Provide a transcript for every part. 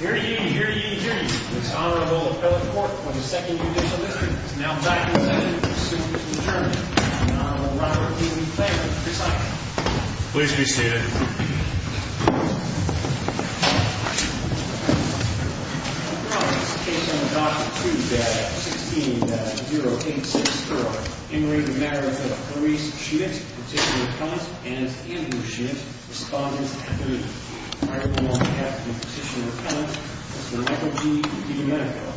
Here you hear you hear this Honorable Appellate Court for the Second Judicial District is now back in session as soon as adjourned. Honorable Robert E. McClain, your assignment. Please be seated. The case on the Doctrine of Truth is at 16.086. In re Marriage of Clarice Schmidt, Petitioner Appellant and Ambulance Schmidt, Respondent 3. Honorable on behalf of the Petitioner Appellant, Mr. Michael G. DiDomenico.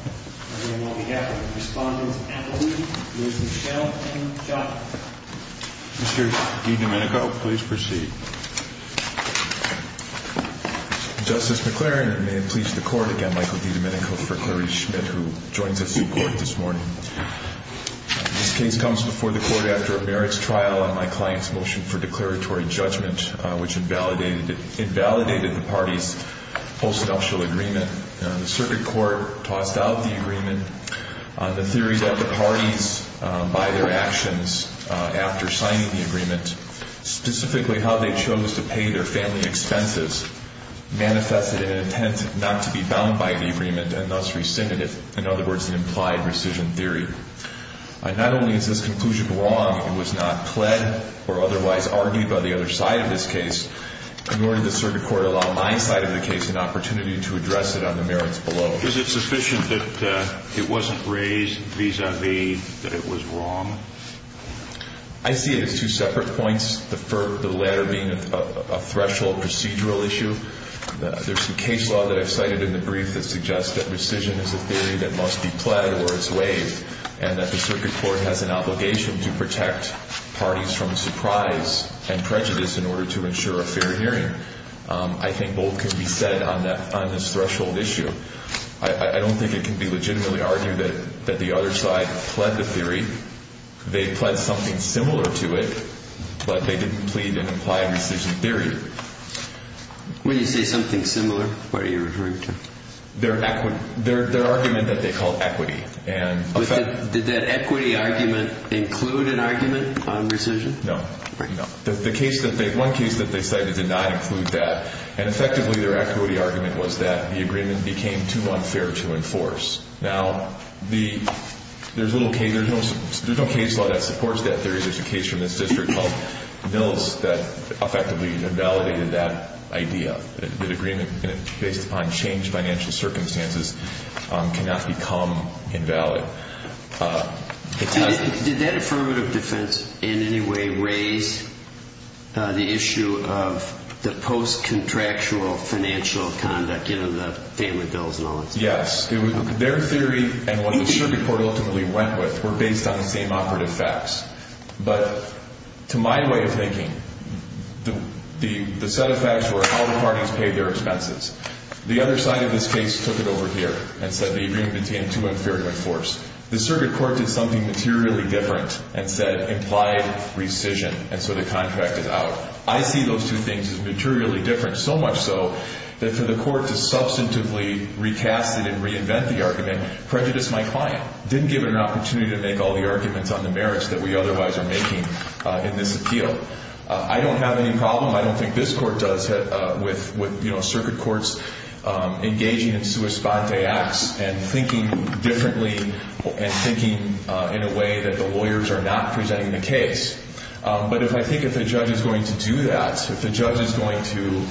And on behalf of the Respondents Appellee, Ms. Michelle M. Joplin. Mr. DiDomenico, please proceed. Justice McClain, it may please the Court again, Michael D. Domenico for Clarice Schmidt, who joins us in court this morning. This case comes before the Court after a merits trial on my client's motion for declaratory judgment, which invalidated the party's postnuptial agreement. The Circuit Court tossed out the agreement, the theories of the parties by their actions after signing the agreement, specifically how they chose to pay their family expenses, manifested in an intent not to be bound by the agreement and thus rescinded it, in other words, an implied rescission theory. Not only is this conclusion wrong, it was not pled or otherwise argued by the other side of this case, nor did the Circuit Court allow my side of the case an opportunity to address it on the merits below. Is it sufficient that it wasn't raised vis-a-vis that it was wrong? I see it as two separate points, the latter being a threshold procedural issue. There's a case law that I've cited in the brief that suggests that rescission is a theory that must be pled or it's waived and that the Circuit Court has an obligation to protect parties from surprise and prejudice in order to ensure a fair hearing. I think both can be said on this threshold issue. I don't think it can be legitimately argued that the other side pled the theory. They pled something similar to it, but they didn't plead an implied rescission theory. When you say something similar, what are you referring to? Their argument that they called equity. Did that equity argument include an argument on rescission? No. One case that they cited did not include that, and effectively their equity argument was that the agreement became too unfair to enforce. Now, there's no case law that supports that theory. There's a case from this district called Mills that effectively invalidated that idea, that agreement based upon changed financial circumstances cannot become invalid. Did that affirmative defense in any way raise the issue of the post-contractual financial conduct given the family bills and all that stuff? Yes. Their theory and what the Circuit Court ultimately went with were based on the same operative facts. But to my way of thinking, the set of facts were how the parties paid their expenses. The other side of this case took it over here and said the agreement became too unfair to enforce. The Circuit Court did something materially different and said implied rescission, and so the contract is out. I see those two things as materially different, so much so that for the Court to substantively recast it and reinvent the argument prejudiced my client. Didn't give it an opportunity to make all the arguments on the merits that we otherwise are making in this appeal. I don't have any problem. I don't think this Court does with Circuit Courts engaging in sua sponte acts and thinking differently and thinking in a way that the lawyers are not presenting the case. But if I think if the judge is going to do that, if the judge is going to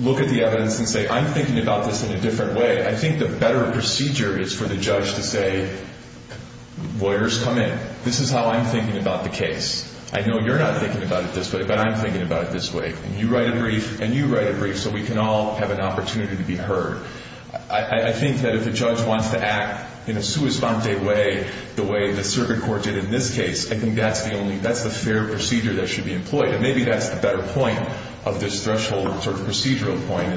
look at the evidence and say, I'm thinking about this in a different way, I think the better procedure is for the judge to say, lawyers, come in. This is how I'm thinking about the case. I know you're not thinking about it this way, but I'm thinking about it this way. And you write a brief, and you write a brief so we can all have an opportunity to be heard. I think that if the judge wants to act in a sua sponte way the way the Circuit Court did in this case, I think that's the fair procedure that should be employed. And maybe that's the better point of this threshold sort of procedural point.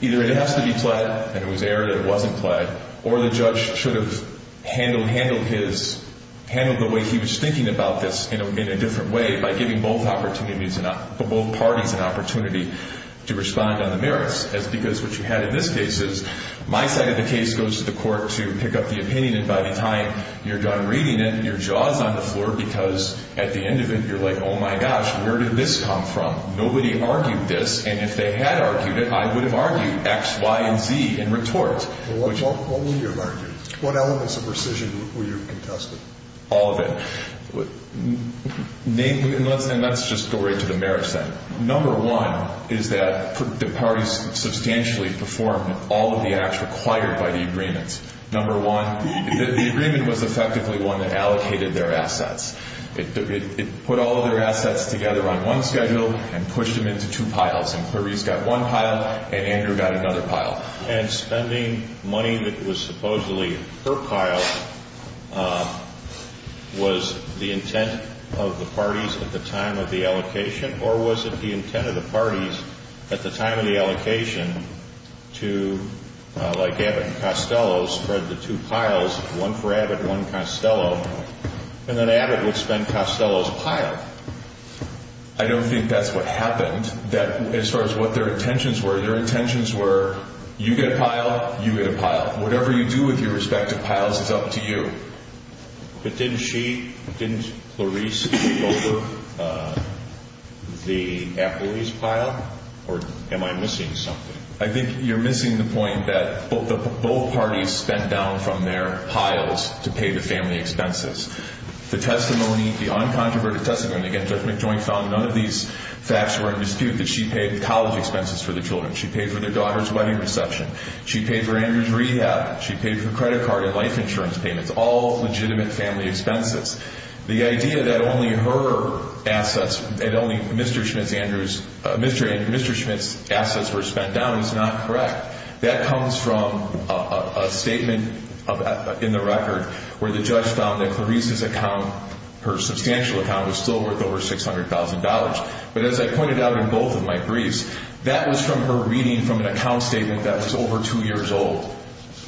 Either it has to be pled, and it was aired, and it wasn't pled, or the judge should have handled the way he was thinking about this in a different way by giving both parties an opportunity to respond on the merits. Because what you had in this case is my side of the case goes to the Court to pick up the opinion, and by the time you're done reading it, your jaw is on the floor because at the end of it you're like, oh, my gosh, where did this come from? Nobody argued this, and if they had argued it, I would have argued X, Y, and Z in retort. What would you have argued? What elements of rescission would you have contested? All of it. And let's just go right to the merits then. Number one is that the parties substantially performed all of the acts required by the agreements. Number one, the agreement was effectively one that allocated their assets. It put all of their assets together on one schedule and pushed them into two piles, and Clarice got one pile and Andrew got another pile. And spending money that was supposedly per pile was the intent of the parties at the time of the allocation, or was it the intent of the parties at the time of the allocation to, like Abbott and Costello, spread the two piles, one for Abbott and one Costello, and then Abbott would spend Costello's pile? I don't think that's what happened. As far as what their intentions were, their intentions were you get a pile, you get a pile. Whatever you do with your respective piles is up to you. But didn't she, didn't Clarice take over the Appleby's pile, or am I missing something? I think you're missing the point that both parties spent down from their piles to pay the family expenses. The testimony, the uncontroverted testimony against Judge McJoint found none of these facts were in dispute, that she paid college expenses for the children, she paid for their daughter's wedding reception, she paid for Andrew's rehab, she paid for credit card and life insurance payments, all legitimate family expenses. The idea that only her assets, that only Mr. Schmidt's, Andrew's, Mr. Schmidt's assets were spent down is not correct. That comes from a statement in the record where the judge found that Clarice's account, her substantial account, was still worth over $600,000. But as I pointed out in both of my briefs, that was from her reading from an account statement that was over two years old.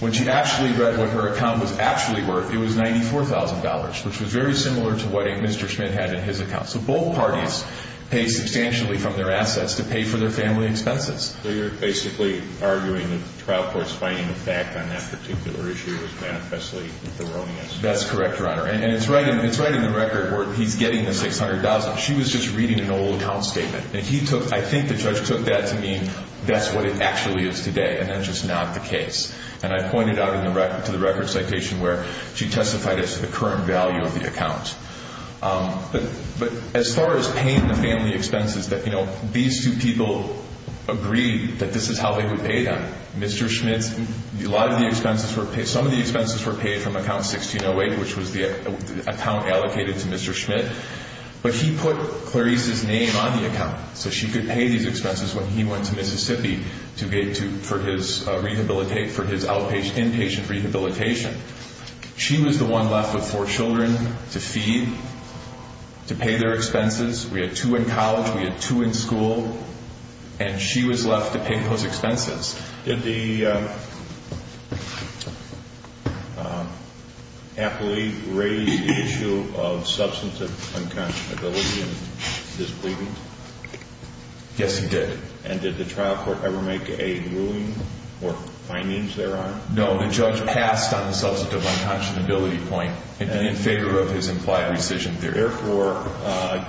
When she actually read what her account was actually worth, it was $94,000, which was very similar to what Mr. Schmidt had in his account. So both parties paid substantially from their assets to pay for their family expenses. So you're basically arguing that the trial court's finding the fact on that particular issue is manifestly erroneous. That's correct, Your Honor. And it's right in the record where he's getting the $600,000. She was just reading an old account statement. I think the judge took that to mean that's what it actually is today, and that's just not the case. And I pointed out to the record citation where she testified as to the current value of the account. But as far as paying the family expenses, these two people agreed that this is how they would pay them. Mr. Schmidt's, a lot of the expenses were paid. Some of the expenses were paid from account 1608, which was the account allocated to Mr. Schmidt. But he put Clarice's name on the account so she could pay these expenses when he went to Mississippi for his inpatient rehabilitation. She was the one left with four children to feed, to pay their expenses. We had two in college. We had two in school. And she was left to pay those expenses. Did the appellee raise the issue of substantive unconscionability and disbelief? Yes, he did. And did the trial court ever make a ruling or findings thereon? No. The judge passed on the substantive unconscionability point in favor of his implied rescission theory. Therefore,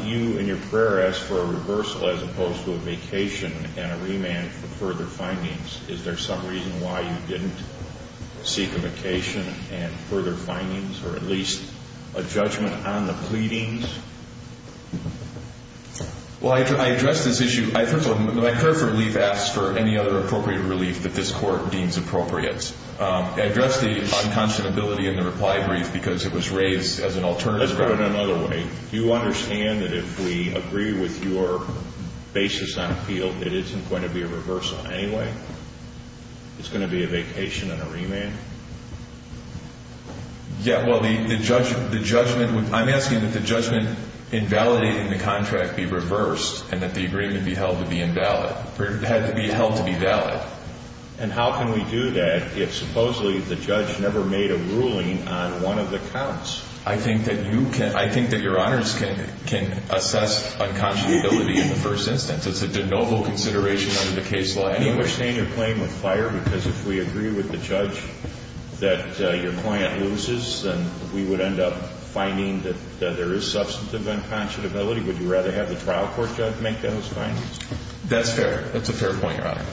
you in your prayer asked for a reversal as opposed to a vacation and a remand for further findings. Is there some reason why you didn't seek a vacation and further findings or at least a judgment on the pleadings? Well, I addressed this issue. First of all, my prayer for relief asks for any other appropriate relief that this court deems appropriate. I addressed the unconscionability in the reply brief because it was raised as an alternative. Let's put it another way. Do you understand that if we agree with your basis on appeal, it isn't going to be a reversal anyway? It's going to be a vacation and a remand? Yeah, well, the judgment would be, I'm asking that the judgment invalidating the contract be reversed and that the agreement be held to be invalid. It had to be held to be valid. And how can we do that if supposedly the judge never made a ruling on one of the counts? I think that you can, I think that Your Honors can assess unconscionability in the first instance. It's a de novo consideration under the case law anyway. Do you understand your claim of fire? Because if we agree with the judge that your client loses, then we would end up finding that there is substantive unconscionability. Would you rather have the trial court judge make those findings? That's fair. That's a fair point, Your Honor.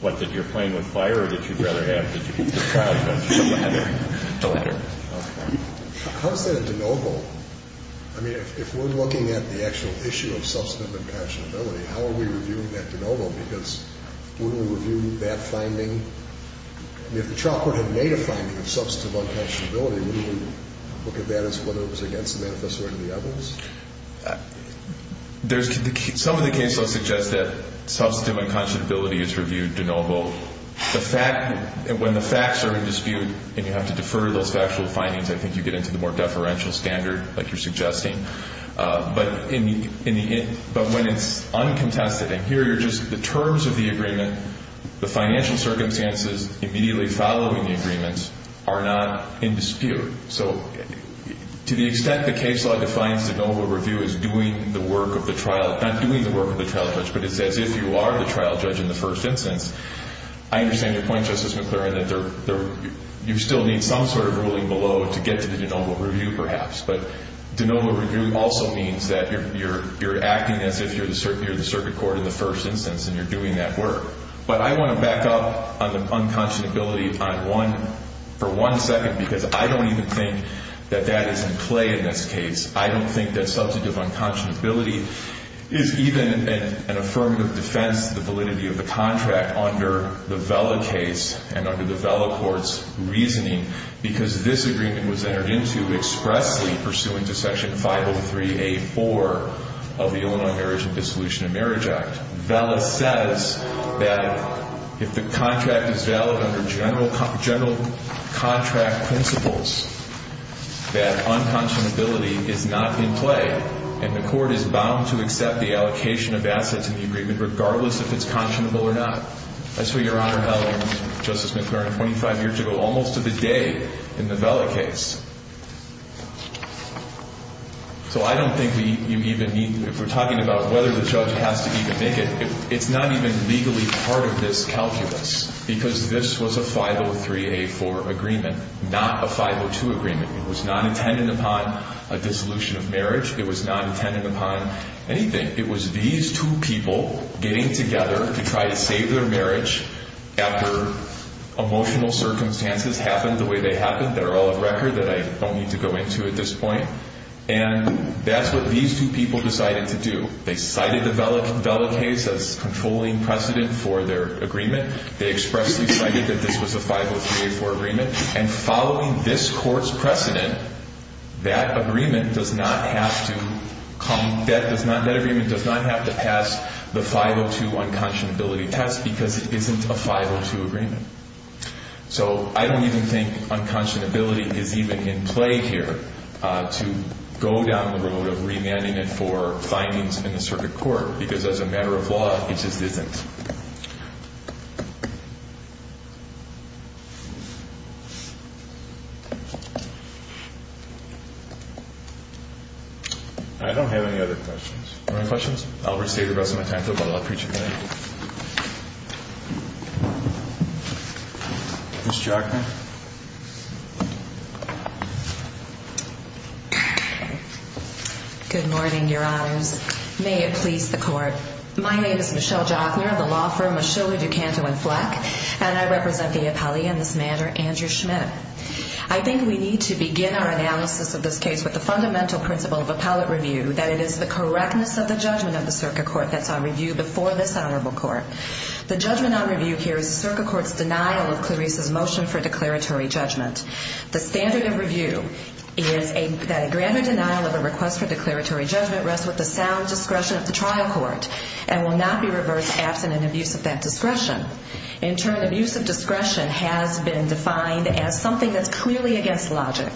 What, that you're playing with fire or that you'd rather have the judge make those findings? The latter. The latter. Okay. How is that a de novo? I mean, if we're looking at the actual issue of substantive unconscionability, how are we reviewing that de novo? Because wouldn't we review that finding? I mean, if the trial court had made a finding of substantive unconscionability, wouldn't we look at that as whether it was against the manifesto or the evidence? Some of the case law suggests that substantive unconscionability is reviewed de novo. When the facts are in dispute and you have to defer those factual findings, I think you get into the more deferential standard, like you're suggesting. But when it's uncontested, and here are just the terms of the agreement, the financial circumstances immediately following the agreement are not in dispute. So to the extent the case law defines de novo review as doing the work of the trial, not doing the work of the trial judge, but it's as if you are the trial judge in the first instance, I understand your point, Justice McClurin, that you still need some sort of ruling below to get to the de novo review, perhaps. But de novo review also means that you're acting as if you're the circuit court in the first instance and you're doing that work. But I want to back up on the unconscionability for one second because I don't even think that that is in play in this case. I don't think that substantive unconscionability is even an affirmative defense to the validity of the contract under the Vela case and under the Vela court's reasoning because this agreement was entered into expressly pursuant to Section 503A.4 of the Illinois Marriage and Dissolution of Marriage Act. Vela says that if the contract is valid under general contract principles, that unconscionability is not in play and the court is bound to accept the allocation of assets in the agreement regardless if it's conscionable or not. I saw Your Honor, Vela, and Justice McClurin 25 years ago almost to the day in the Vela case. So I don't think we even need, if we're talking about whether the judge has to even make it, it's not even legally part of this calculus because this was a 503A.4 agreement, not a 502 agreement. It was not intended upon a dissolution of marriage. It was not intended upon anything. It was these two people getting together to try to save their marriage after emotional circumstances happened the way they happened. They're all a record that I don't need to go into at this point. And that's what these two people decided to do. They cited the Vela case as controlling precedent for their agreement. They expressly cited that this was a 503A.4 agreement. And following this court's precedent, that agreement does not have to come, that does not, that agreement does not have to pass the 502 unconscionability test because it isn't a 502 agreement. So I don't even think unconscionability is even in play here to go down the road of remanding it for findings in the circuit court because as a matter of law, it just isn't. I don't have any other questions. Any questions? I'll restate the rest of my time, but I'll preach again. Ms. Jochner. Good morning, your honors. May it please the court. My name is Michelle Jochner, the law firm of Schiller, DuCanto, and Fleck, and I represent the appellee in this matter, Andrew Schmidt. I think we need to begin our analysis of this case with the fundamental principle of appellate review, that it is the correctness of the judgment of the circuit court that's on review before this honorable court. The judgment on review here is the circuit court's denial of Clarice's motion for declaratory judgment. The standard of review is that a grander denial of a request for declaratory judgment rests with the sound discretion of the trial court and will not be reversed absent an abuse of that discretion. In turn, abuse of discretion has been defined as something that's clearly against logic,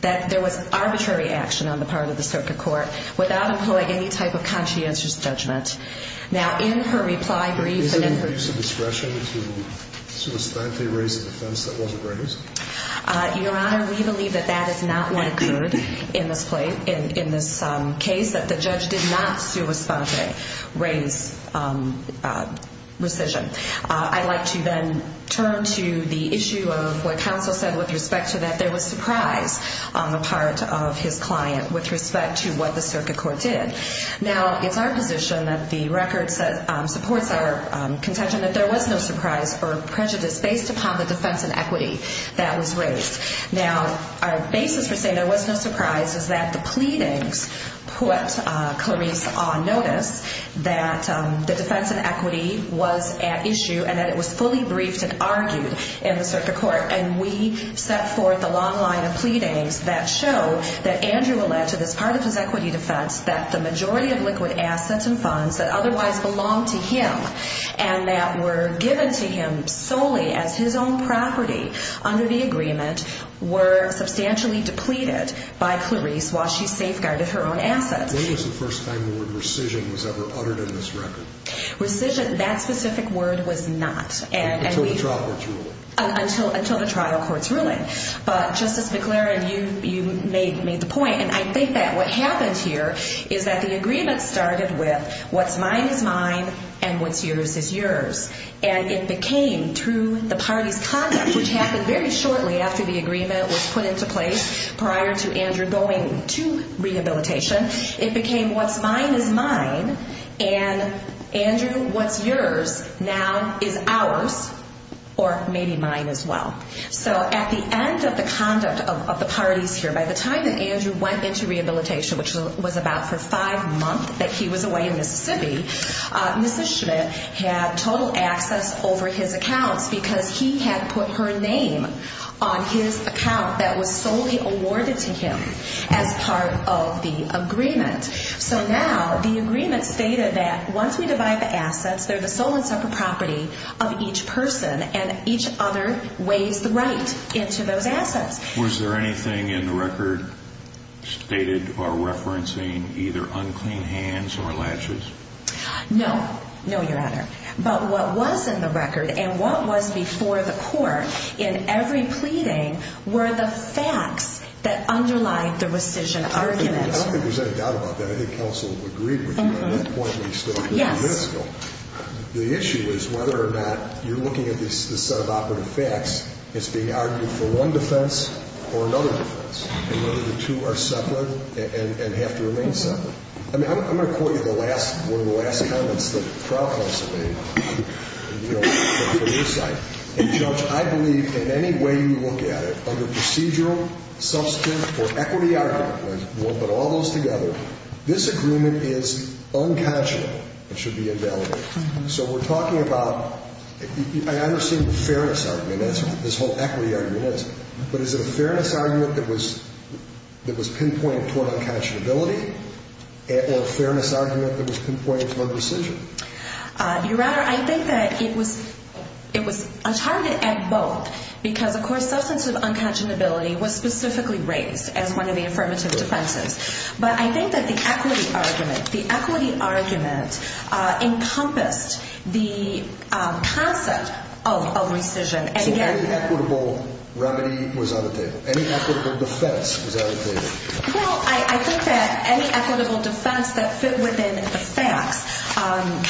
that there was arbitrary action on the part of the circuit court without employing any type of conscientious judgment. Now, in her reply brief and in her... Is it an abuse of discretion to sui spante raise a defense that wasn't raised? Your honor, we believe that that is not what occurred in this case, that the judge did not sui spante raise rescission. I'd like to then turn to the issue of what counsel said with respect to that. That there was surprise on the part of his client with respect to what the circuit court did. Now, it's our position that the record supports our contention that there was no surprise for prejudice based upon the defense and equity that was raised. Now, our basis for saying there was no surprise is that the pleadings put Clarice on notice that the defense and equity was at issue and that it was fully briefed and argued in the circuit court, and we set forth a long line of pleadings that show that Andrew alleged as part of his equity defense that the majority of liquid assets and funds that otherwise belonged to him and that were given to him solely as his own property under the agreement were substantially depleted by Clarice while she safeguarded her own assets. When was the first time the word rescission was ever uttered in this record? Rescission, that specific word was not. Until the trial broke through. Until the trial court's ruling. But Justice McLaren, you made the point, and I think that what happened here is that the agreement started with what's mine is mine and what's yours is yours. And it became through the party's conduct, which happened very shortly after the agreement was put into place prior to Andrew going to rehabilitation, it became what's mine is mine, and Andrew, what's yours now is ours, or maybe mine as well. So at the end of the conduct of the parties here, by the time that Andrew went into rehabilitation, which was about for five months that he was away in Mississippi, Mrs. Schmidt had total access over his accounts because he had put her name on his account that was solely awarded to him as part of the agreement. So now the agreement stated that once we divide the assets, they're the sole and separate property of each person, and each other weighs the right into those assets. Was there anything in the record stated or referencing either unclean hands or latches? No. No, Your Honor. But what was in the record and what was before the court in every pleading were the facts that underlie the rescission arguments. I don't think there's any doubt about that. I think counsel agreed with you on that point when you spoke a few minutes ago. Yes. The issue is whether or not you're looking at this set of operative facts as being argued for one defense or another defense, and whether the two are separate and have to remain separate. I mean, I'm going to quote you one of the last comments that trial counsel made, you know, from your side. And, Judge, I believe in any way you look at it, whether procedural, substantive, or equity argument, we'll put all those together, this agreement is unconscionable. It should be invalidated. So we're talking about, I understand the fairness argument as this whole equity argument is, but is it a fairness argument that was pinpointed toward unconscionability or a fairness argument that was pinpointed toward rescission? Your Honor, I think that it was a target at both because, of course, substantive unconscionability was specifically raised as one of the affirmative defenses. But I think that the equity argument encompassed the concept of rescission. So any equitable remedy was on the table? Any equitable defense was on the table? Well, I think that any equitable defense that fit within the facts,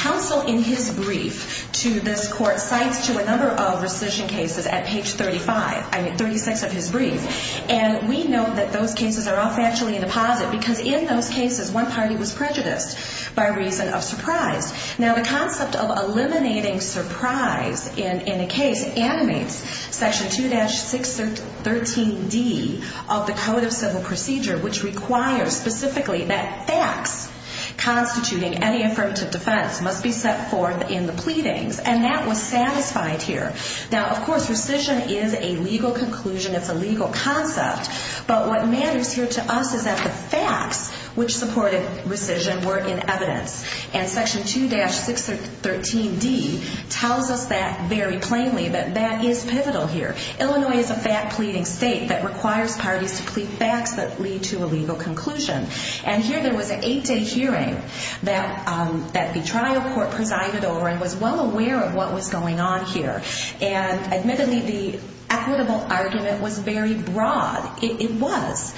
counsel in his brief to this court cites to a number of rescission cases at page 35, I mean, 36 of his brief. And we know that those cases are all factually in the posit, because in those cases, one party was prejudiced by reason of surprise. Now, the concept of eliminating surprise in a case animates Section 2-613D of the Code of Civil Procedure, which requires specifically that facts constituting any affirmative defense must be set forth in the pleadings. And that was satisfied here. Now, of course, rescission is a legal conclusion. It's a legal concept. But what matters here to us is that the facts which supported rescission were in evidence. And Section 2-613D tells us that very plainly, that that is pivotal here. Illinois is a fact-pleading state that requires parties to plead facts that lead to a legal conclusion. And here there was an eight-day hearing that the trial court presided over and was well aware of what was going on here. And admittedly, the equitable argument was very broad. It was.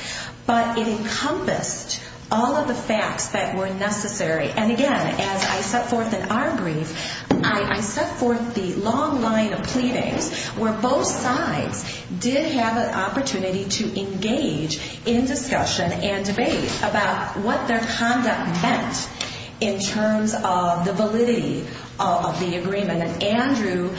But it encompassed all of the facts that were necessary. And again, as I set forth in our brief, I set forth the long line of pleadings where both sides did have an opportunity to engage in discussion and debate about what their conduct meant in terms of the validity of the agreement. And Andrew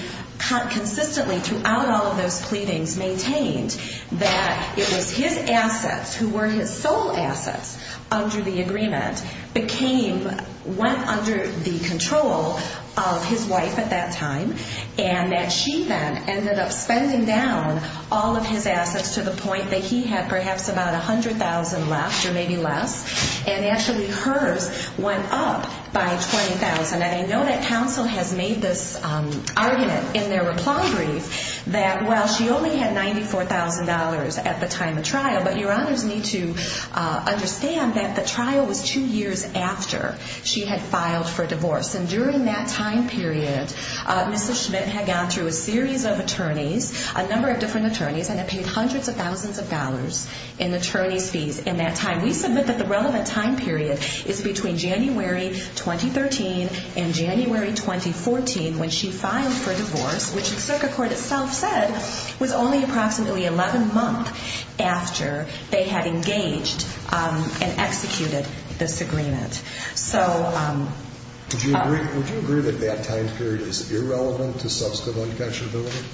consistently throughout all of those pleadings maintained that it was his assets, who were his sole assets under the agreement, became, went under the control of his wife at that time. And that she then ended up spending down all of his assets to the point that he had perhaps about $100,000 left or maybe less. And actually hers went up by $20,000. And I know that counsel has made this argument in their reply brief that while she only had $94,000 at the time of trial, but your honors need to understand that the trial was two years after she had filed for divorce. And during that time period, Mrs. Schmidt had gone through a series of attorneys, a number of different attorneys, and had paid hundreds of thousands of dollars in attorney's fees in that time. And we submit that the relevant time period is between January 2013 and January 2014 when she filed for divorce, which the circuit court itself said was only approximately 11 months after they had engaged and executed this agreement. Would you agree that that time period is irrelevant to substantive unconscionability?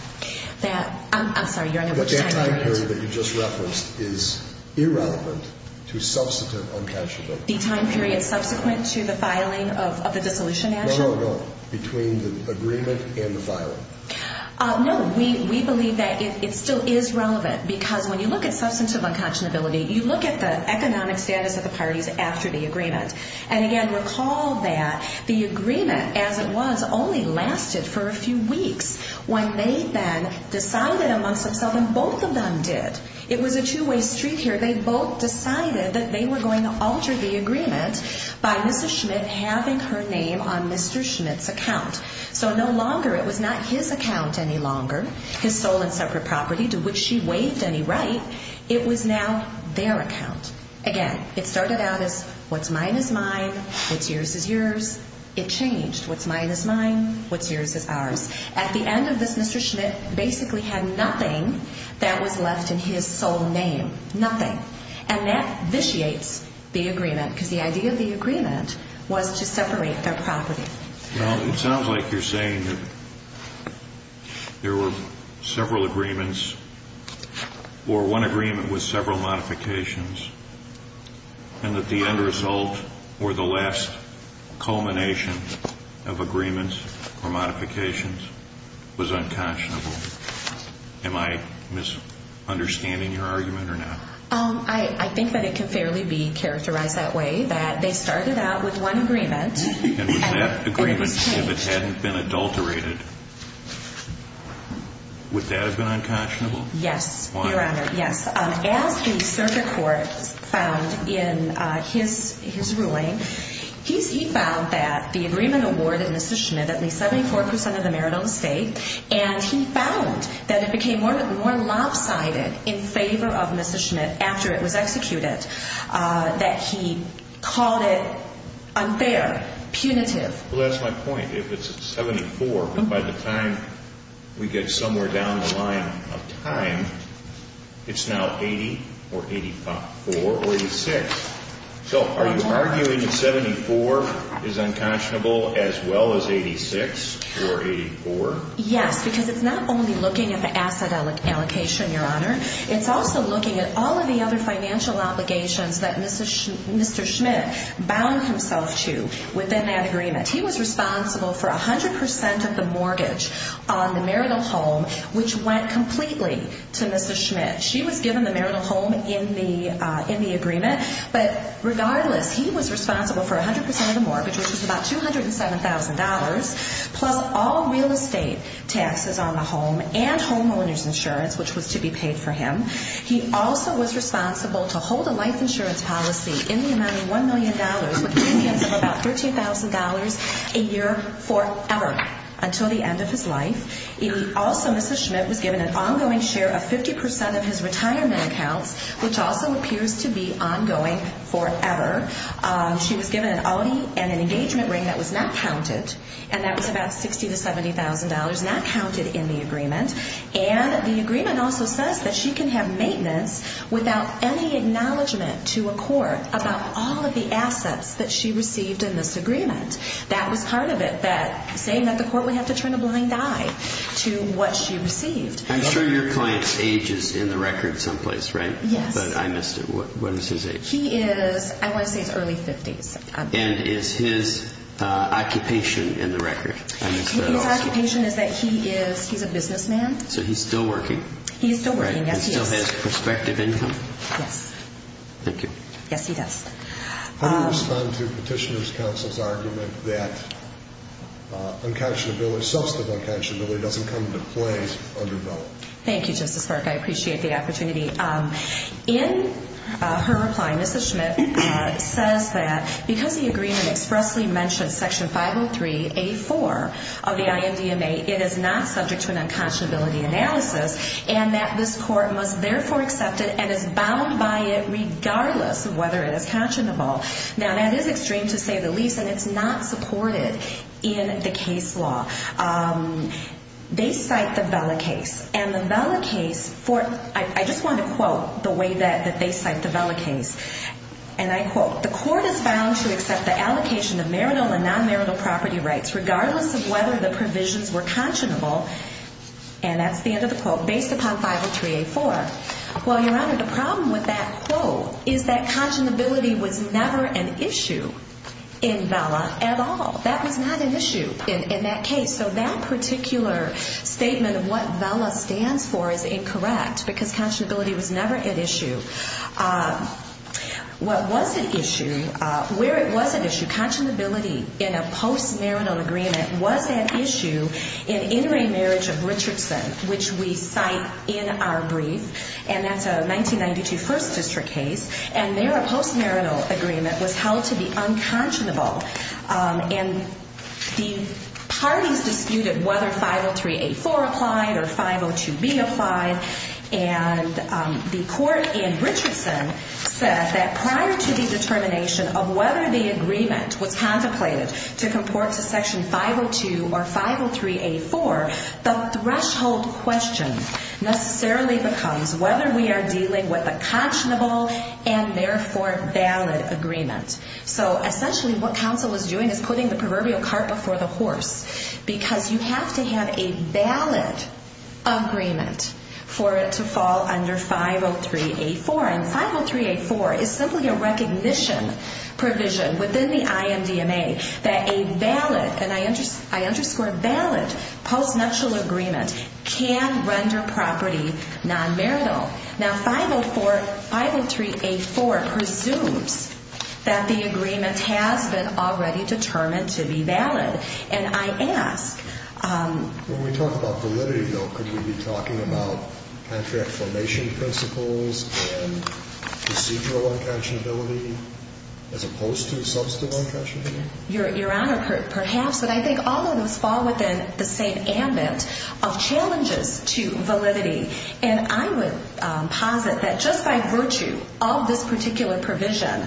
I'm sorry, your honor, which time period? That time period that you just referenced is irrelevant to substantive unconscionability. The time period subsequent to the filing of the dissolution action? No, no, no. Between the agreement and the filing. No, we believe that it still is relevant because when you look at substantive unconscionability, you look at the economic status of the parties after the agreement. And again, recall that the agreement as it was only lasted for a few weeks when they then decided amongst themselves, and both of them did. It was a two-way street here. They both decided that they were going to alter the agreement by Mrs. Schmidt having her name on Mr. Schmidt's account. So no longer, it was not his account any longer, his sole and separate property to which she waived any right, it was now their account. Again, it started out as what's mine is mine, what's yours is yours. It changed. What's mine is mine, what's yours is ours. At the end of this, Mr. Schmidt basically had nothing that was left in his sole name. Nothing. And that vitiates the agreement because the idea of the agreement was to separate their property. Well, it sounds like you're saying that there were several agreements or one agreement with several modifications, and that the end result or the last culmination of agreements or modifications was unconscionable. Am I misunderstanding your argument or not? I think that it can fairly be characterized that way, that they started out with one agreement. And with that agreement, if it hadn't been adulterated, would that have been unconscionable? Yes, Your Honor. Why? As the circuit court found in his ruling, he found that the agreement awarded Mrs. Schmidt at least 74% of the marital estate, and he found that it became more lopsided in favor of Mrs. Schmidt after it was executed, that he called it unfair, punitive. Well, that's my point. If it's 74, by the time we get somewhere down the line of time, it's now 80 or 84 or 86. So are you arguing that 74 is unconscionable as well as 86 or 84? Yes, because it's not only looking at the asset allocation, Your Honor. It's also looking at all of the other financial obligations that Mr. Schmidt bound himself to within that agreement. He was responsible for 100% of the mortgage on the marital home, which went completely to Mrs. Schmidt. She was given the marital home in the agreement. But regardless, he was responsible for 100% of the mortgage, which was about $207,000, plus all real estate taxes on the home and homeowners insurance, which was to be paid for him. He also was responsible to hold a life insurance policy in the amount of $1 million, with premiums of about $13,000 a year forever, until the end of his life. Also, Mrs. Schmidt was given an ongoing share of 50% of his retirement accounts, which also appears to be ongoing forever. She was given an Audi and an engagement ring that was not counted, and that was about $60,000 to $70,000, not counted in the agreement. And the agreement also says that she can have maintenance without any acknowledgement to a court about all of the assets that she received in this agreement. That was part of it, that saying that the court would have to turn a blind eye to what she received. I'm sure your client's age is in the record someplace, right? Yes. But I missed it. What is his age? He is, I want to say it's early 50s. And is his occupation in the record? I missed that also. His occupation is that he is, he's a businessman. So he's still working? He's still working, yes, he is. He still has prospective income? Yes. Thank you. Yes, he does. How do you respond to Petitioner's Counsel's argument that unconscionability, substantive unconscionability doesn't come into play under the law? Thank you, Justice Park. I appreciate the opportunity. In her reply, Mrs. Schmidt says that because the agreement expressly mentions Section 503A.4 of the IMDMA, it is not subject to an unconscionability analysis, and that this court must therefore accept it and is bound by it regardless of whether it is conscionable. Now, that is extreme, to say the least, and it's not supported in the case law. They cite the Vela case, and the Vela case for, I just want to quote the way that they cite the Vela case. And I quote, The court is bound to accept the allocation of marital and non-marital property rights regardless of whether the provisions were conscionable, and that's the end of the quote, based upon 503A.4. Well, Your Honor, the problem with that quote is that conscionability was never an issue in Vela at all. That was not an issue in that case. So that particular statement of what Vela stands for is incorrect because conscionability was never an issue. What was an issue, where it was an issue, conscionability in a post-marital agreement was an issue in intermarriage of Richardson, which we cite in our brief, and that's a 1992 First District case, and there a post-marital agreement was held to be unconscionable, and the parties disputed whether 503A.4 applied or 502B applied, and the court in Richardson said that prior to the determination of whether the agreement was contemplated to comport to Section 502 or 503A.4, the threshold question necessarily becomes whether we are dealing with a conscionable and therefore valid agreement. So essentially what counsel is doing is putting the proverbial cart before the horse because you have to have a valid agreement for it to fall under 503A.4, and 503A.4 is simply a recognition provision within the IMDMA that a valid, and I underscore valid, post-marital agreement can render property non-marital. Now, 503A.4 presumes that the agreement has been already determined to be valid, and I ask... Procedural unconscionability as opposed to substantial unconscionability? Your Honor, perhaps, but I think all of those fall within the same ambit of challenges to validity, and I would posit that just by virtue of this particular provision,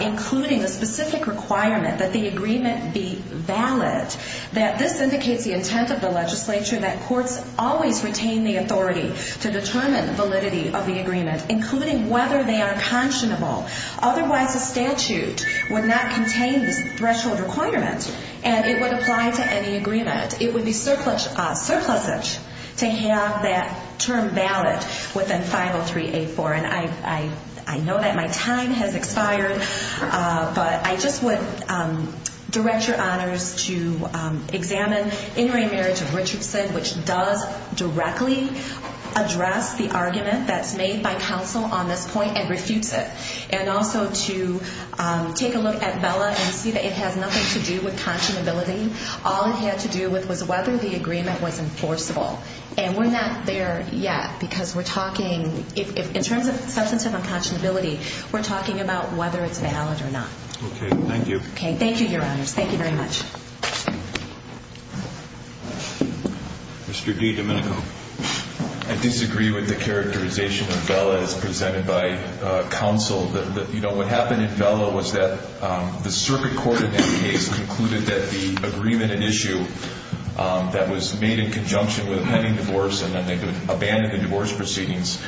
including a specific requirement that the agreement be valid, that this indicates the intent of the legislature that courts always retain the authority to determine validity of the agreement, including whether they are conscionable. Otherwise, a statute would not contain this threshold requirement, and it would apply to any agreement. It would be surplusage to have that term valid within 503A.4, and I know that my time has expired, but I just would direct Your Honors to examine In Re Marriage of Richardson, which does directly address the argument that's made by counsel on this point and refutes it, and also to take a look at Bella and see that it has nothing to do with conscionability. All it had to do with was whether the agreement was enforceable, and we're not there yet because we're talking... In terms of substantive unconscionability, we're talking about whether it's valid or not. Okay. Thank you. Okay. Thank you, Your Honors. Thank you very much. Mr. D, Domenico. I disagree with the characterization of Bella as presented by counsel. You know, what happened in Bella was that the circuit court in that case concluded that the agreement at issue that was made in conjunction with a pending divorce and then they would abandon the divorce proceedings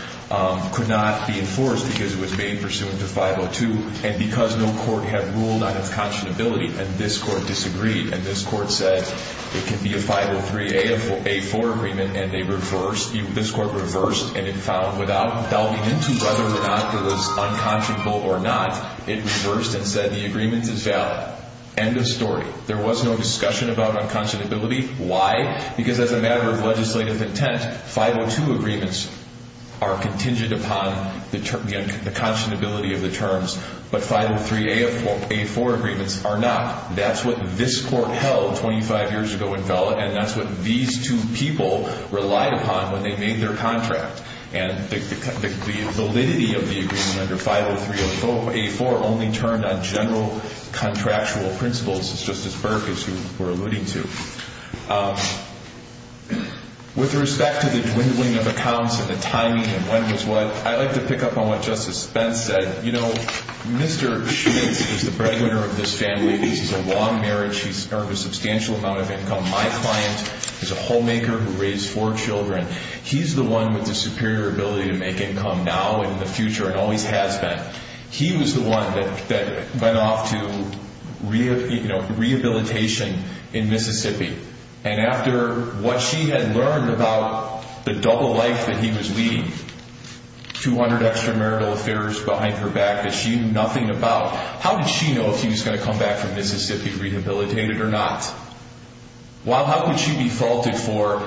could not be enforced because it was made pursuant to 502, and because no court had ruled on its conscionability, and this court disagreed, and this court said it could be a 503-A4 agreement, and they reversed. This court reversed, and it found without delving into whether or not it was unconscionable or not, it reversed and said the agreement is valid. End of story. There was no discussion about unconscionability. Why? Because as a matter of legislative intent, 502 agreements are contingent upon the conscionability of the terms, but 503-A4 agreements are not. That's what this court held 25 years ago in Bella, and that's what these two people relied upon when they made their contract, and the validity of the agreement under 503-A4 only turned on general contractual principles, as Justice Burke, as you were alluding to. With respect to the dwindling of accounts and the timing and when was what, I'd like to pick up on what Justice Spence said. You know, Mr. Schmitz is the breadwinner of this family. This is a long marriage. He's earned a substantial amount of income. My client is a homemaker who raised four children. He's the one with the superior ability to make income now and in the future and always has been. He was the one that went off to rehabilitation in Mississippi, and after what she had learned about the double life that he was leading, 200 extramarital affairs behind her back that she knew nothing about, how did she know if he was going to come back from Mississippi rehabilitated or not? Well, how could she be faulted for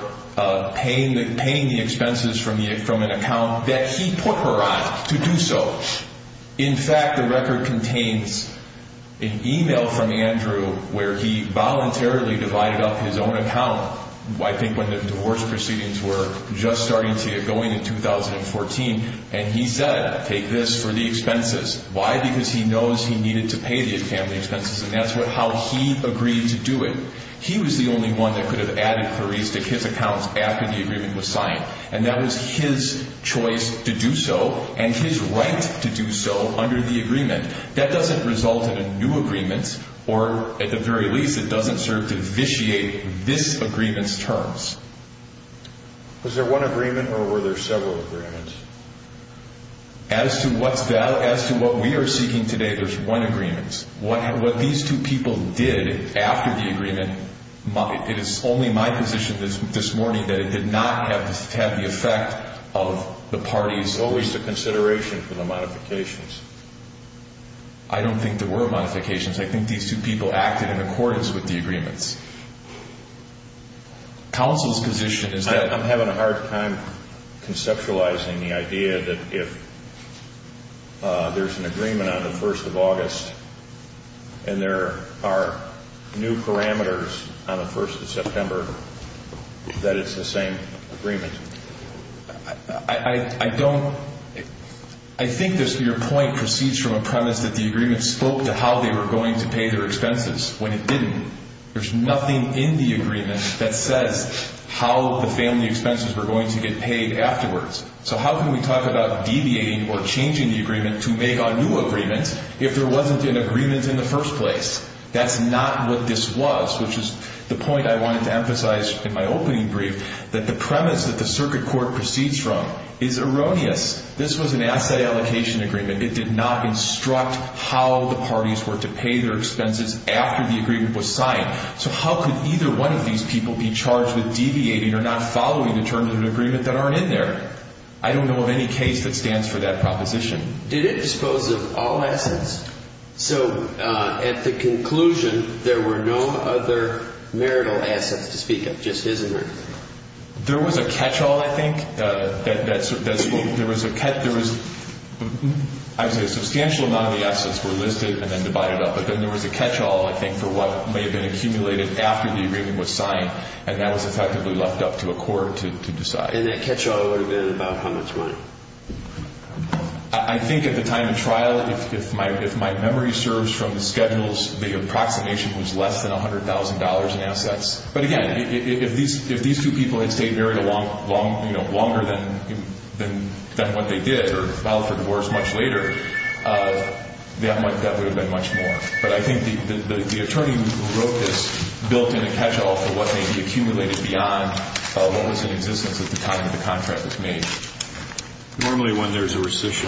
paying the expenses from an account that he put her on to do so? In fact, the record contains an e-mail from Andrew where he voluntarily divided up his own account, I think when the divorce proceedings were just starting to get going in 2014, and he said, take this for the expenses. Why? Because he knows he needed to pay the family expenses, and that's how he agreed to do it. He was the only one that could have added queries to his account after the agreement was signed, and that was his choice to do so and his right to do so under the agreement. That doesn't result in a new agreement, or at the very least, it doesn't serve to vitiate this agreement's terms. Was there one agreement or were there several agreements? As to what we are seeking today, there's one agreement. What these two people did after the agreement, it is only my position this morning that it did not have the effect of the parties. Was there consideration for the modifications? I don't think there were modifications. I think these two people acted in accordance with the agreements. Counsel's position is that- I'm having a hard time conceptualizing the idea that if there's an agreement on the 1st of August and there are new parameters on the 1st of September, that it's the same agreement. I think your point proceeds from a premise that the agreement spoke to how they were going to pay their expenses. When it didn't, there's nothing in the agreement that says how the family expenses were going to get paid afterwards. How can we talk about deviating or changing the agreement to make a new agreement if there wasn't an agreement in the first place? That's not what this was, which is the point I wanted to emphasize in my opening brief, that the premise that the circuit court proceeds from is erroneous. This was an asset allocation agreement. It did not instruct how the parties were to pay their expenses after the agreement was signed. So how could either one of these people be charged with deviating or not following the terms of the agreement that aren't in there? I don't know of any case that stands for that proposition. Did it dispose of all assets? So at the conclusion, there were no other marital assets to speak of, just his inheritance? There was a catch-all, I think. There was a substantial amount of the assets were listed and then divided up, but then there was a catch-all, I think, for what may have been accumulated after the agreement was signed, and that was effectively left up to a court to decide. And that catch-all would have been about how much money? I think at the time of trial, if my memory serves from the schedules, the approximation was less than $100,000 in assets. But, again, if these two people had stayed married longer than what they did or filed for divorce much later, that would have been much more. But I think the attorney who wrote this built in a catch-all for what may be accumulated beyond what was in existence at the time that the contract was made. Normally when there's a rescission,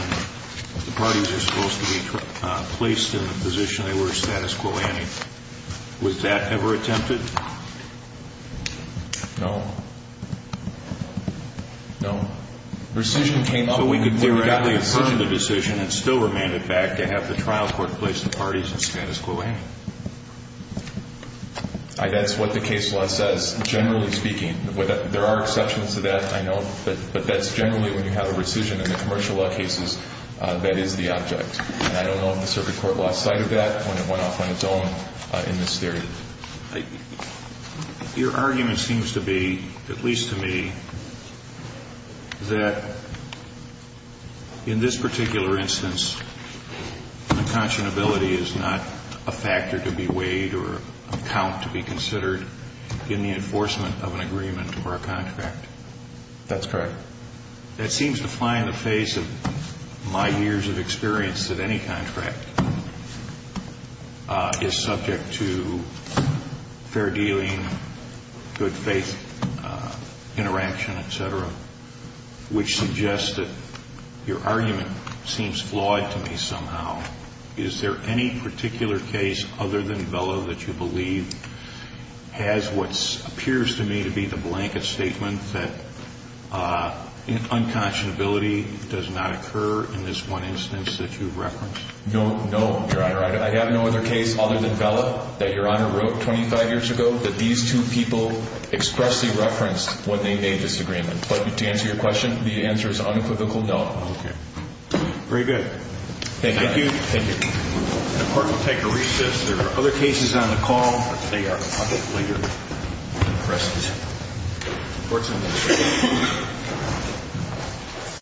the parties are supposed to be placed in the position they were in status quo ante. Was that ever attempted? No. No. The rescission came up when we got the decision and still remained in effect to have the trial court place the parties in status quo ante. That's what the case law says, generally speaking. There are exceptions to that, I know, but that's generally when you have a rescission in the commercial law cases, that is the object. And I don't know if the circuit court lost sight of that when it went off on its own in this theory. Your argument seems to be, at least to me, that in this particular instance, an unconscionability is not a factor to be weighed or a count to be considered in the enforcement of an agreement or a contract. That's correct. That seems to fly in the face of my years of experience that any contract is subject to fair dealing, good faith interaction, et cetera, which suggests that your argument seems flawed to me somehow. Is there any particular case other than Vella that you believe has what appears to me to be the blanket statement that unconscionability does not occur in this one instance that you referenced? No, no, Your Honor. I have no other case other than Vella that Your Honor wrote 25 years ago that these two people expressly referenced when they made this agreement. But to answer your question, the answer is unequivocal no. Okay. Very good. Thank you, Your Honor. Thank you. Thank you. The Court will take a recess. There are other cases on the call. They are the public leader. The rest is courts and administration.